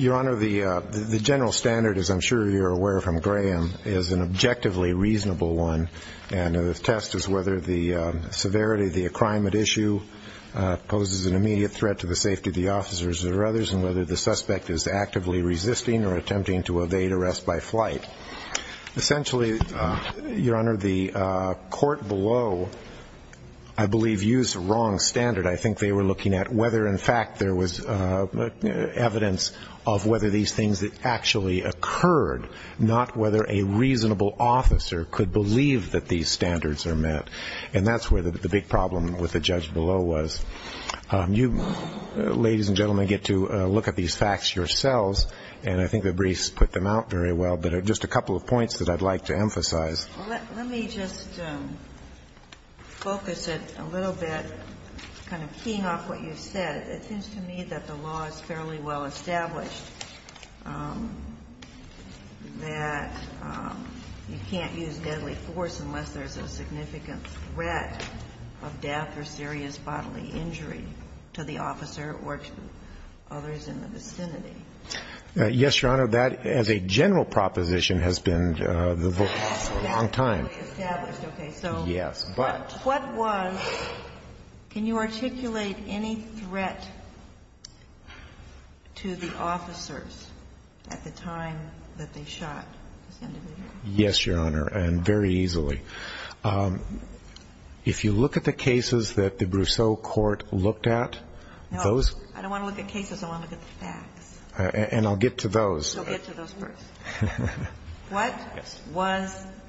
Your Honor, the general standard, as I'm sure you're aware from Graham, is an objectively reasonable one, and the test is whether the severity of the crime at issue poses an immediate threat to the safety of the officers or others, and whether the suspect is actively resisting or attempting to evade arrest by flight. Essentially, Your Honor, the court below, I believe, used the wrong standard. I think they were looking at whether in fact there was evidence of whether these things actually occurred, not whether a reasonable officer could believe that these standards are met. And that's where the big problem with the judge below was. You, ladies and gentlemen, get to look at these facts yourselves, and I think the briefs put them out very well, but just a couple of points that I'd like to emphasize. Let me just focus it a little bit, kind of keying off what you said. It seems to me that the law is fairly well established that you can't use deadly force unless there's a significant threat of death or serious bodily injury to the officer or to others in the vicinity. Yes, Your Honor. That, as a general proposition, has been the voice for a long time. So what was, can you articulate any threat to the officers at the time that they shot this individual? Yes, Your Honor, and very easily. If you look at the cases that the Brousseau court looked at, those No, I don't want to look at cases. I want to look at the facts. And I'll get to those.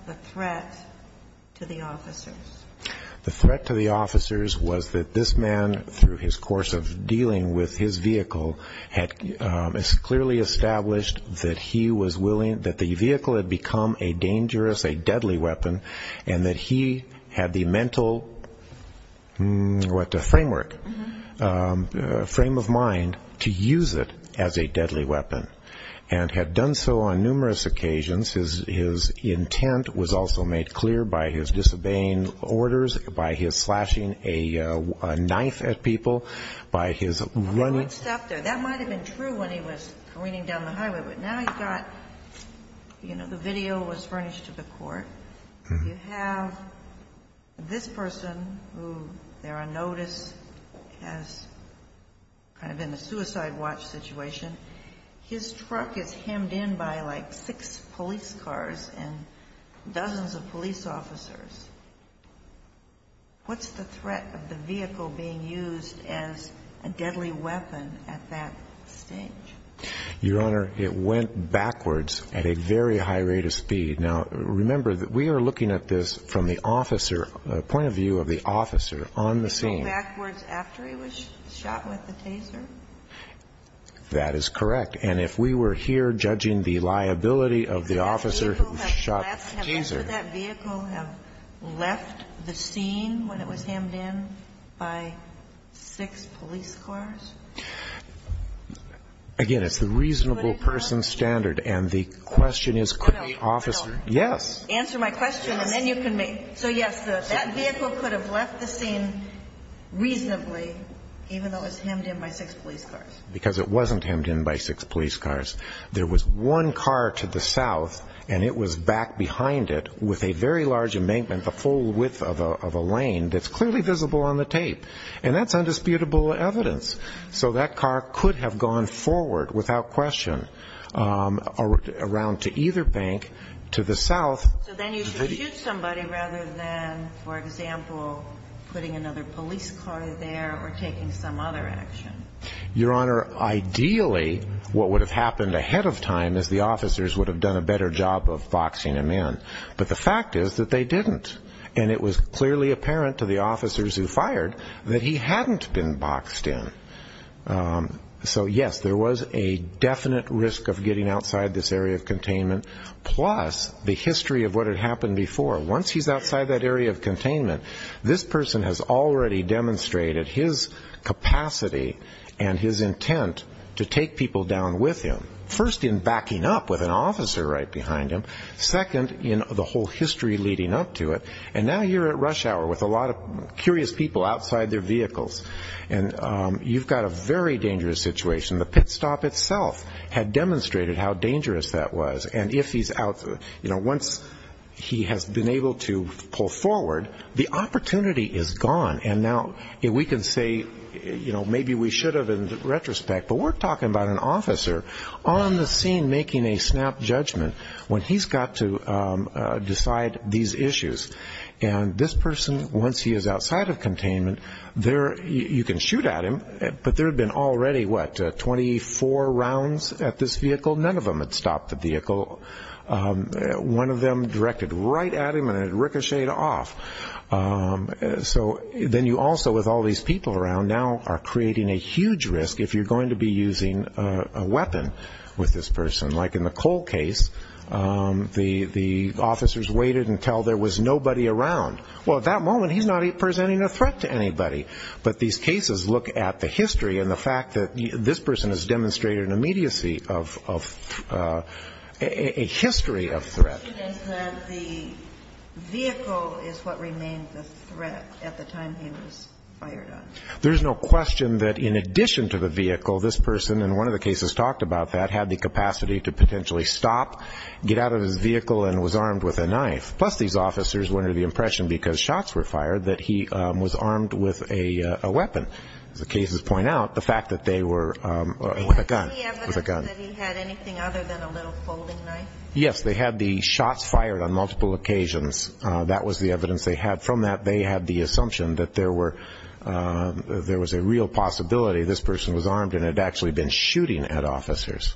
The threat to the officers was that this man, through his course of dealing with his vehicle, had clearly established that he was willing, that the vehicle had become a dangerous, a deadly weapon, and that he had the mental framework, frame of mind, to use it as a deadly weapon, and had done so on numerous occasions. His intent was also made clear by his disobeying orders, by his slashing a knife at people, by his running Well, he would have stopped there. That might have been true when he was careening down the highway. But now he's got, you know, the video was furnished to the court. You have this person who, there on notice, has kind of been a suicide watch situation. His truck is hemmed in by like six police cars and dozens of police officers. What's the threat of the vehicle being used as a deadly weapon at that stage? Your Honor, it went backwards at a very high rate of speed. Now, remember, we are looking at this from the officer, point of view of the officer on the scene. It went backwards after he was shot with the taser? That is correct. And if we were here judging the liability of the officer who shot the taser Could that vehicle have left the scene when it was hemmed in by six police cars? Again, it's the reasonable person's standard. And the question is, could the officer... Answer my question and then you can make... So, yes, that vehicle could have left the scene reasonably, even though it was hemmed in by six police cars. Because it wasn't hemmed in by six police cars. There was one car to the south, and it was back behind it with a very large embankment, the full width of a lane that's clearly visible on the tape. And that's indisputable evidence. So that car could have gone forward without question around to either bank to the south. So then you could shoot somebody rather than, for example, putting another police car there or taking some other action. Your Honor, ideally, what would have happened ahead of time is the officers would have done a better job of boxing him in. But the fact is that they didn't. And it was clearly apparent to the officers who fired that he hadn't been boxed in. So, yes, there was a definite risk of getting outside this area of containment, plus the history of what had happened before. Once he's outside that area of containment, this person has already demonstrated his capacity and his intent to take people down with him, first in backing up with an officer right behind him, second in the whole history leading up to it. And now you're at rush hour with a lot of curious people outside their vehicles. And you've got a very dangerous situation. The pit stop itself had demonstrated how dangerous that was. And once he has been able to pull forward, the opportunity is gone. And now we can say maybe we should have in retrospect, but we're talking about an officer on the scene making a snap judgment. When he's got to decide these issues. And this person, once he is outside of containment, you can shoot at him, but there have been already, what, 24 rounds at this vehicle? None of them had stopped the vehicle. One of them directed right at him and it ricocheted off. So then you also, with all these people around, now are creating a huge risk if you're going to be using a weapon with this person. Like in the Cole case, the officers waited until there was nobody around. Well, at that moment, he's not presenting a threat to anybody. But these cases look at the history and the fact that this person has demonstrated an immediacy of a history of threat. The question is that the vehicle is what remained the threat at the time he was fired on. There's no question that in addition to the vehicle, this person, and one of the cases talked about that, had the capacity to potentially stop, get out of his vehicle, and was armed with a knife. Plus, these officers went into the impression, because shots were fired, that he was armed with a weapon. As the cases point out, the fact that they were with a gun. Was there any evidence that he had anything other than a little folding knife? Yes, they had the shots fired on multiple occasions. That was the evidence they had. From that, they had the assumption that there was a real possibility this person was armed and had actually been shooting at officers.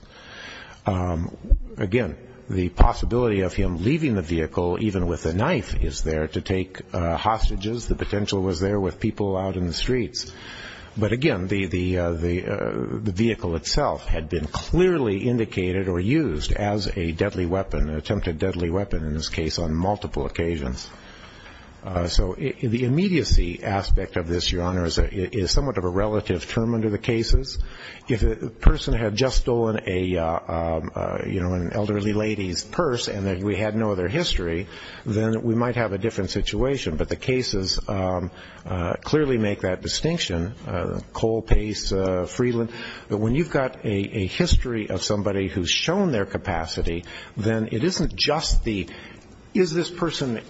Again, the possibility of him leaving the vehicle, even with a knife, is there to take hostages. The potential was there with people out in the streets. But again, the vehicle itself had been clearly indicated or used as a deadly weapon, an attempted deadly weapon in this case, on multiple occasions. So the immediacy aspect of this, Your Honor, is somewhat of a relative term under the cases. If a person had just stolen an elderly lady's purse and we had no other history, then we might have a different situation. But the cases clearly make that distinction. Cole, Pace, Freeland. But when you've got a history of somebody who's shown their capacity, then it isn't just the, is this person,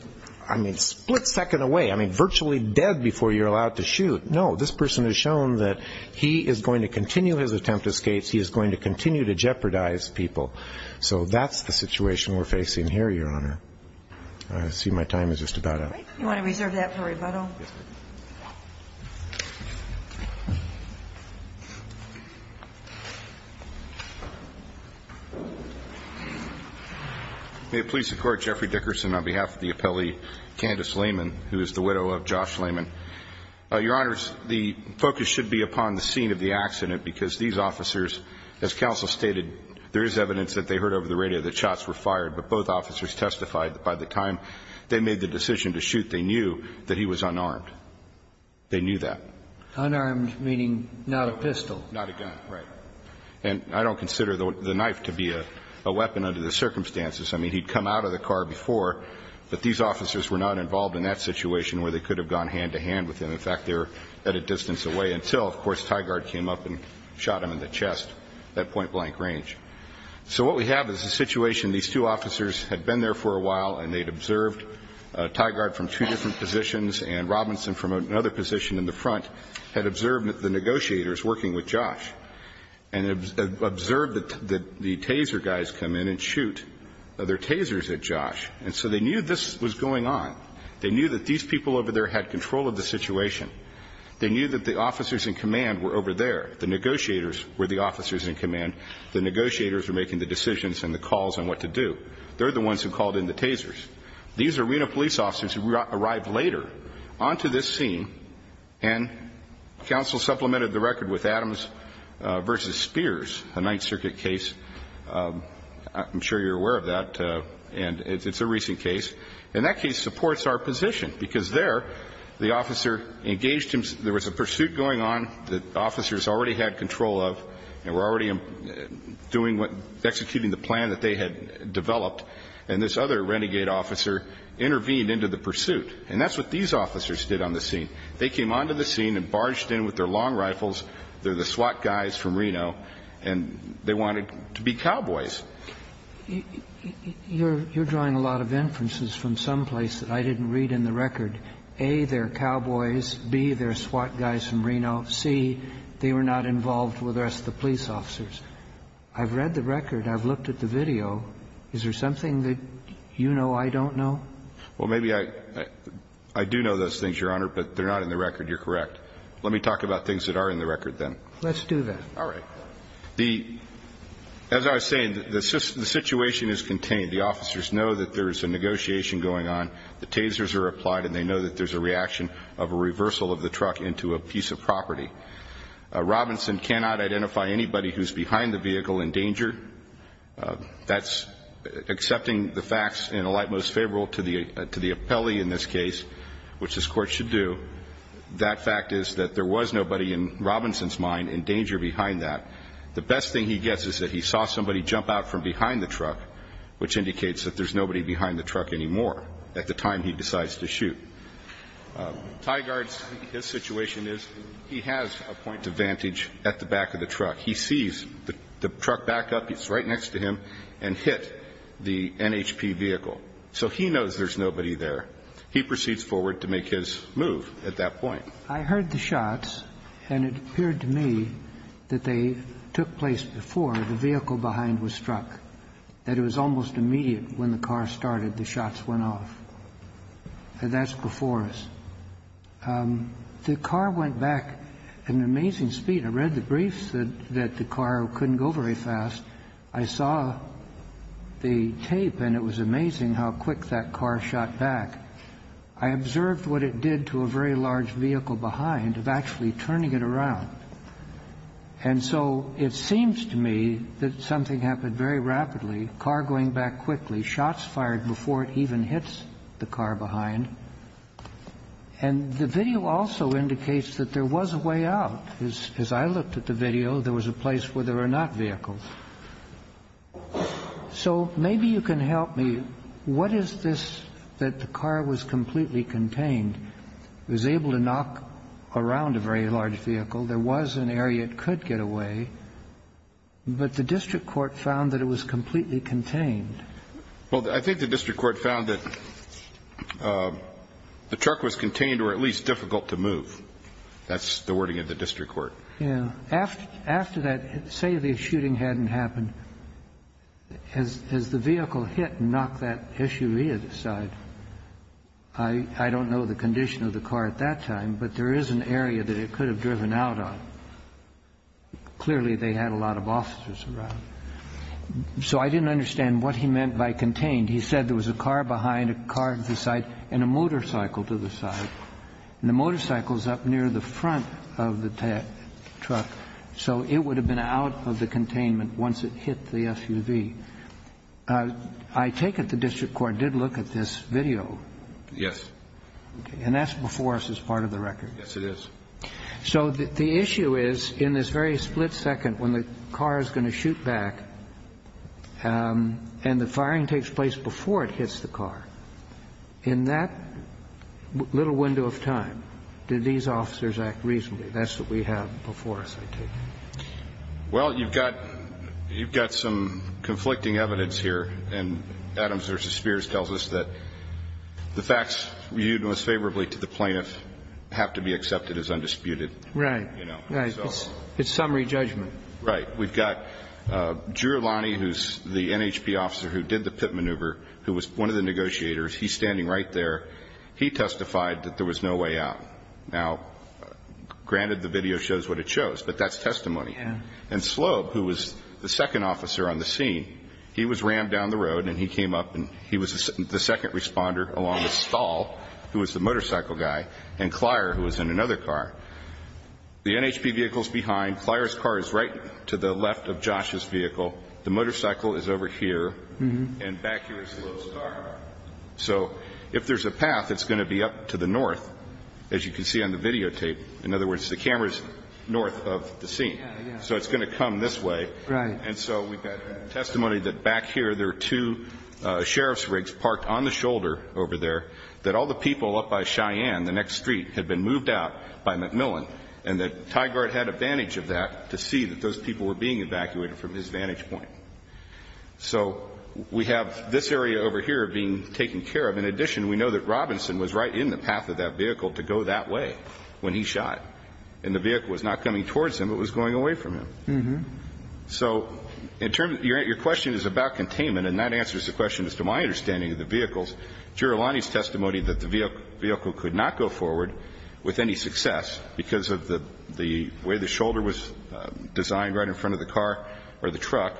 I mean, split second away, I mean, virtually dead before you're allowed to shoot. No, this person has shown that he is going to continue his attempt to escape. He is going to continue to jeopardize people. So that's the situation we're facing here, Your Honor. I see my time is just about up. Yes, please. May it please the Court. Jeffrey Dickerson on behalf of the appellee, Candace Lehman, who is the widow of Josh Lehman. Your Honors, the focus should be upon the scene of the accident because these officers, as counsel stated, there is evidence that they heard over the radio that shots were fired, but both officers testified that by the time they made the decision to shoot, they knew that he was unarmed. They knew that. Unarmed meaning not a pistol. Not a gun, right. And I don't consider the knife to be a weapon under the circumstances. I mean, he'd come out of the car before, but these officers were not involved in that situation where they could have gone hand-to-hand with him. In fact, they were at a distance away until, of course, Tie Guard came up and shot him in the chest at point-blank range. So what we have is a situation. These two officers had been there for a while, and they'd observed. Tie Guard from two different positions and Robinson from another position in the front had observed the negotiators working with Josh. And observed that the taser guys come in and shoot their tasers at Josh. And so they knew this was going on. They knew that these people over there had control of the situation. They knew that the officers in command were over there. The negotiators were the officers in command. The negotiators were making the decisions and the calls on what to do. They're the ones who called in the tasers. These arena police officers arrived later onto this scene, and counsel supplemented the record with Adams v. Spears, a Ninth Circuit case. I'm sure you're aware of that. And it's a recent case. And that case supports our position, because there, the officer engaged him. There was a pursuit going on that the officers already had control of and were already executing the plan that they had developed. And this other renegade officer intervened into the pursuit. And that's what these officers did on the scene. They came onto the scene and barged in with their long rifles. They're the SWAT guys from Reno. And they wanted to be cowboys. You're drawing a lot of inferences from someplace that I didn't read in the record. A, they're cowboys. B, they're SWAT guys from Reno. C, they were not involved with us, the police officers. I've read the record. I've looked at the video. Is there something that you know I don't know? Well, maybe I do know those things, Your Honor, but they're not in the record. You're correct. Let me talk about things that are in the record then. Let's do that. All right. As I was saying, the situation is contained. The officers know that there's a negotiation going on. The tasers are applied, and they know that there's a reaction of a reversal of the truck into a piece of property. Robinson cannot identify anybody who's behind the vehicle in danger. That's accepting the facts in a light most favorable to the appellee in this case, which this Court should do. That fact is that there was nobody in Robinson's mind in danger behind that. The best thing he gets is that he saw somebody jump out from behind the truck, which indicates that there's nobody behind the truck anymore at the time he decides to shoot. Tygaard's situation is he has a point of vantage at the back of the truck. He sees the truck back up. It's right next to him and hit the NHP vehicle. So he knows there's nobody there. He proceeds forward to make his move at that point. I heard the shots, and it appeared to me that they took place before the vehicle behind was struck, that it was almost immediate when the car started, the shots went off. That's before us. The car went back at an amazing speed. I read the briefs that the car couldn't go very fast. I saw the tape, and it was amazing how quick that car shot back. I observed what it did to a very large vehicle behind of actually turning it around. And so it seems to me that something happened very rapidly, car going back quickly, shots fired before it even hits the car behind. And the video also indicates that there was a way out. As I looked at the video, there was a place where there were not vehicles. So maybe you can help me. What is this that the car was completely contained, was able to knock around a very large vehicle? There was an area it could get away, but the district court found that it was completely contained. Well, I think the district court found that the truck was contained or at least difficult to move. That's the wording of the district court. Yeah. After that, say the shooting hadn't happened, as the vehicle hit and knocked that issue aside, I don't know the condition of the car at that time, but there is an area that it could have driven out of. Clearly, they had a lot of officers around. So I didn't understand what he meant by contained. He said there was a car behind, a car to the side, and a motorcycle to the side. And the motorcycle is up near the front of the truck. So it would have been out of the containment once it hit the SUV. I take it the district court did look at this video. Yes. And that's before us as part of the record. Yes, it is. So the issue is in this very split second when the car is going to shoot back and the firing takes place before it hits the car, in that little window of time did these officers act reasonably? That's what we have before us, I take it. Well, you've got some conflicting evidence here. And Adams v. Spears tells us that the facts viewed most favorably to the plaintiff have to be accepted as undisputed. Right. It's summary judgment. Right. We've got Drew Elani, who's the NHP officer who did the pit maneuver, who was one of the negotiators. He's standing right there. He testified that there was no way out. Now, granted, the video shows what it shows, but that's testimony. Yes. And Sloab, who was the second officer on the scene, he was rammed down the road and he came up and he was the second responder along with Stahl, who was the motorcycle guy, and Clyer, who was in another car. The NHP vehicle is behind. Clyer's car is right to the left of Josh's vehicle. The motorcycle is over here, and back here is Sloab's car. So if there's a path, it's going to be up to the north, as you can see on the videotape. In other words, the camera is north of the scene. Yeah, yeah. So it's going to come this way. Right. And so we've got testimony that back here there are two sheriff's rigs parked on the shoulder over there, that all the people up by Cheyenne, the next street, had been moved out by McMillan, and the Tie Guard had advantage of that to see that those people were being evacuated from his vantage point. So we have this area over here being taken care of. In addition, we know that Robinson was right in the path of that vehicle to go that way when he shot, and the vehicle was not coming towards him, it was going away from him. So in terms of your question is about containment, and that answers the question as to my understanding of the vehicles. Giurilani's testimony that the vehicle could not go forward with any success because of the way the shoulder was designed right in front of the car or the truck,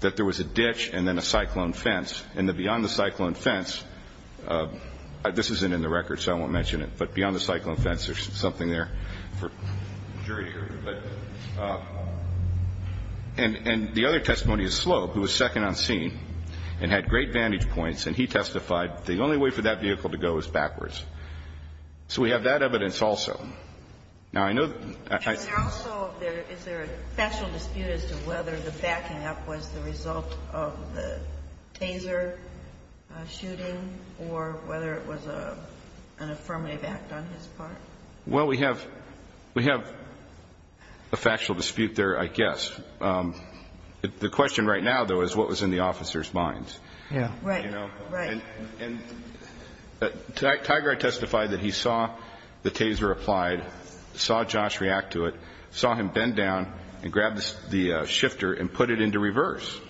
that there was a ditch and then a cyclone fence. And beyond the cyclone fence, this isn't in the record so I won't mention it, but beyond the cyclone fence, there's something there for the jury to hear. And the other testimony is Slope, who was second on scene and had great vantage points, and he testified the only way for that vehicle to go is backwards. So we have that evidence also. Now, I know that I see. And also is there a factual dispute as to whether the backing up was the result of the Taser shooting or whether it was an affirmative act on his part? Well, we have a factual dispute there, I guess. The question right now, though, is what was in the officers' minds. Right. And Tigard testified that he saw the Taser applied, saw Josh react to it, saw him bend down and grab the shifter and put it into reverse.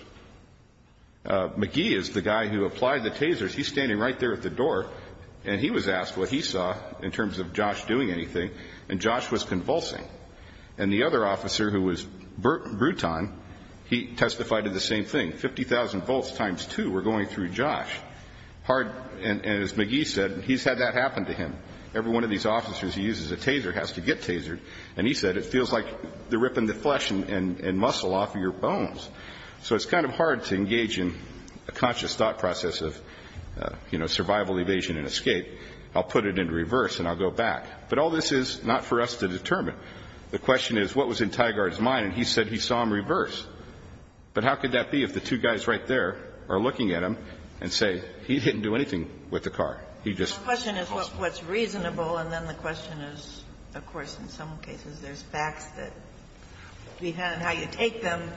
McGee is the guy who applied the Tasers. He's standing right there at the door, and he was asked what he saw in terms of Josh doing anything, and Josh was convulsing. And the other officer, who was Bruton, he testified to the same thing. 50,000 volts times two were going through Josh. And as McGee said, he's had that happen to him. Every one of these officers he uses a Taser has to get Tasered. And he said, it feels like they're ripping the flesh and muscle off of your bones. So it's kind of hard to engage in a conscious thought process of, you know, survival, evasion, and escape. I'll put it into reverse, and I'll go back. But all this is not for us to determine. The question is what was in Tigard's mind, and he said he saw him reverse. But how could that be if the two guys right there are looking at him and say he didn't do anything with the car? He just was convulsing. The question is what's reasonable, and then the question is, of course, in some cases, there's facts that depend on how you take them.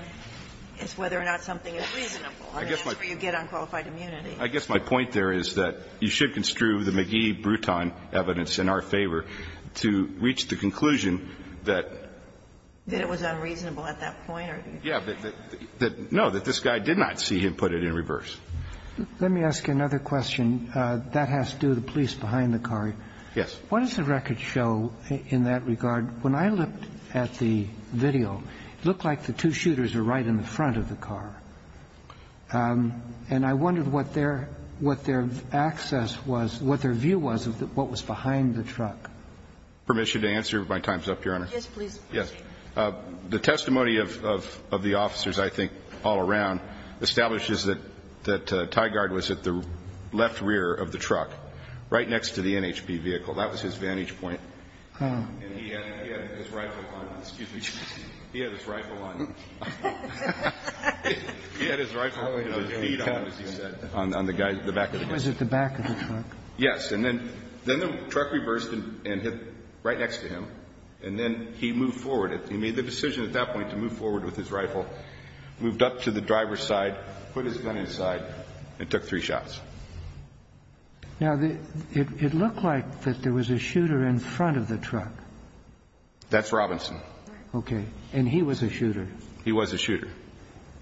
It's whether or not something is reasonable. I mean, that's where you get unqualified immunity. I guess my point there is that you should construe the McGee-Bruton evidence in our favor to reach the conclusion that. That it was unreasonable at that point? Yeah. No, that this guy did not see him put it in reverse. Let me ask you another question. That has to do with the police behind the car. Yes. What does the record show in that regard? When I looked at the video, it looked like the two shooters were right in the front of the car. And I wondered what their access was, what their view was of what was behind the truck. Permission to answer? If my time is up, Your Honor. Yes, please. Yes. The testimony of the officers, I think, all around, establishes that Tigard was at the left rear of the truck, right next to the NHP vehicle. That was his vantage point. Oh. And he had his rifle on him. Excuse me. He had his rifle on him. He had his rifle with his feet on him, as he said, on the back of the truck. He was at the back of the truck. Yes. And then the truck reversed and hit right next to him. And then he moved forward. He made the decision at that point to move forward with his rifle, moved up to the driver's side, put his gun inside, and took three shots. Now, it looked like that there was a shooter in front of the truck. That's Robinson. Okay. And he was a shooter. He was a shooter.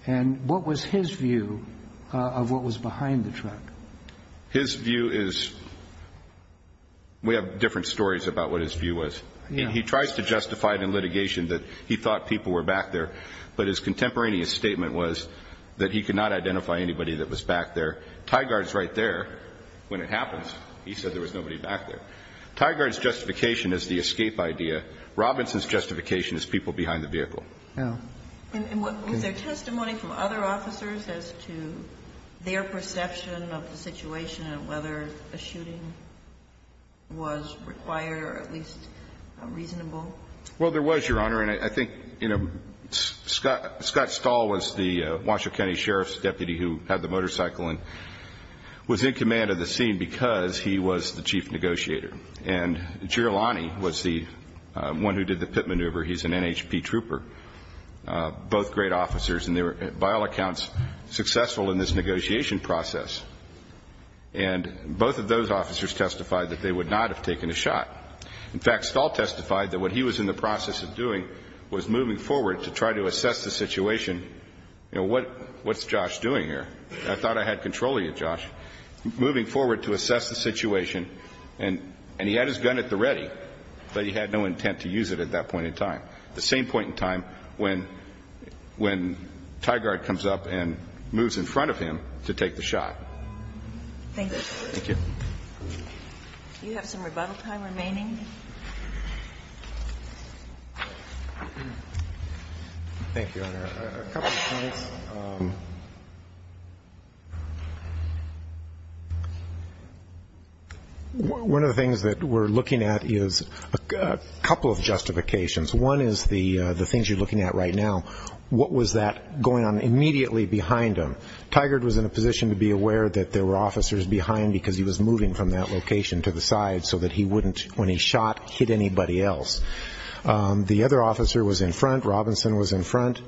And what was his view of what was behind the truck? His view is we have different stories about what his view was. He tries to justify it in litigation that he thought people were back there, but his contemporaneous statement was that he could not identify anybody that was back there. Tygaard is right there when it happens. He said there was nobody back there. Tygaard's justification is the escape idea. Robinson's justification is people behind the vehicle. And was there testimony from other officers as to their perception of the situation and whether a shooting was required or at least reasonable? Well, there was, Your Honor. And I think, you know, Scott Stahl was the Washoe County Sheriff's deputy who had the motorcycle and was in command of the scene because he was the chief negotiator. And Girlani was the one who did the pit maneuver. He's an NHP trooper. Both great officers, and they were, by all accounts, successful in this negotiation process. And both of those officers testified that they would not have taken a shot. In fact, Stahl testified that what he was in the process of doing was moving forward to try to assess the situation. You know, what's Josh doing here? I thought I had control of you, Josh. Moving forward to assess the situation. And he had his gun at the ready, but he had no intent to use it at that point in time. The same point in time when Tygaard comes up and moves in front of him to take the shot. Thank you. Thank you. Thank you, Your Honor. A couple of points. One of the things that we're looking at is a couple of justifications. One is the things you're looking at right now. What was that going on immediately behind him? Tygaard was in a position to be aware that there were officers behind because he was moving from that location to the side so that he wouldn't, when he shot, hit anybody else. The other officer was in front. Robinson was in front.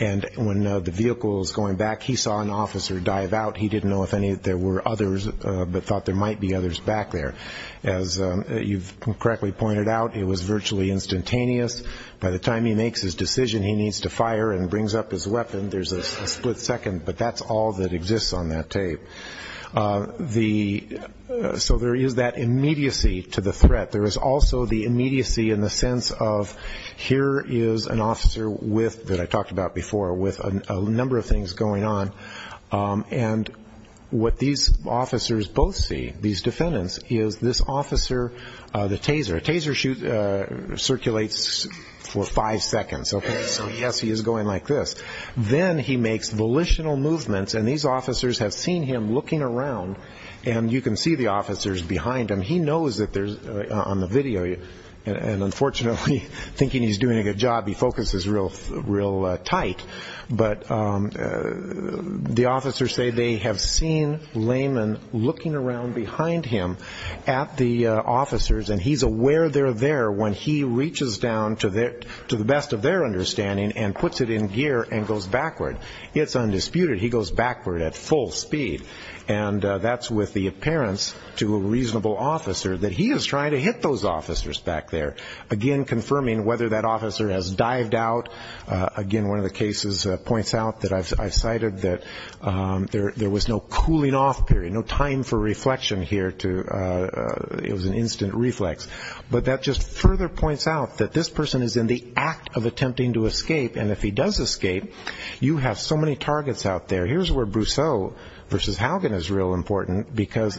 And when the vehicle was going back, he saw an officer dive out. He didn't know if there were others but thought there might be others back there. As you've correctly pointed out, it was virtually instantaneous. By the time he makes his decision, he needs to fire and brings up his weapon. There's a split second, but that's all that exists on that tape. So there is that immediacy to the threat. There is also the immediacy in the sense of here is an officer that I talked about before with a number of things going on, and what these officers both see, these defendants, is this officer, the taser. A taser circulates for five seconds. So, yes, he is going like this. Then he makes volitional movements, and these officers have seen him looking around, and you can see the officers behind him. He knows that on the video, and unfortunately, thinking he's doing a good job, he focuses real tight. But the officers say they have seen Lehman looking around behind him at the officers, and he's aware they're there when he reaches down to the best of their understanding and puts it in gear and goes backward. It's undisputed. He goes backward at full speed. And that's with the appearance to a reasonable officer that he is trying to hit those officers back there, again confirming whether that officer has dived out. Again, one of the cases points out that I've cited that there was no cooling off period, no time for reflection here. It was an instant reflex. But that just further points out that this person is in the act of attempting to escape, and if he does escape, you have so many targets out there. Here's where Brousseau v. Haugen is real important because,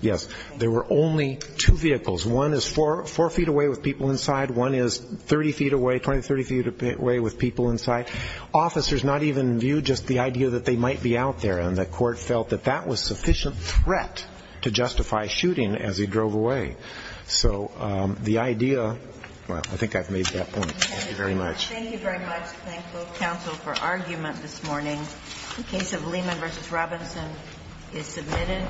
yes, there were only two vehicles. One is four feet away with people inside. One is 30 feet away, 20, 30 feet away with people inside. Officers not even viewed just the idea that they might be out there, and the court felt that that was sufficient threat to justify shooting as he drove away. So the idea, well, I think I've made that point. Thank you very much. Thank you very much. Thank both counsel for argument this morning. The case of Lehman v. Robinson is submitted.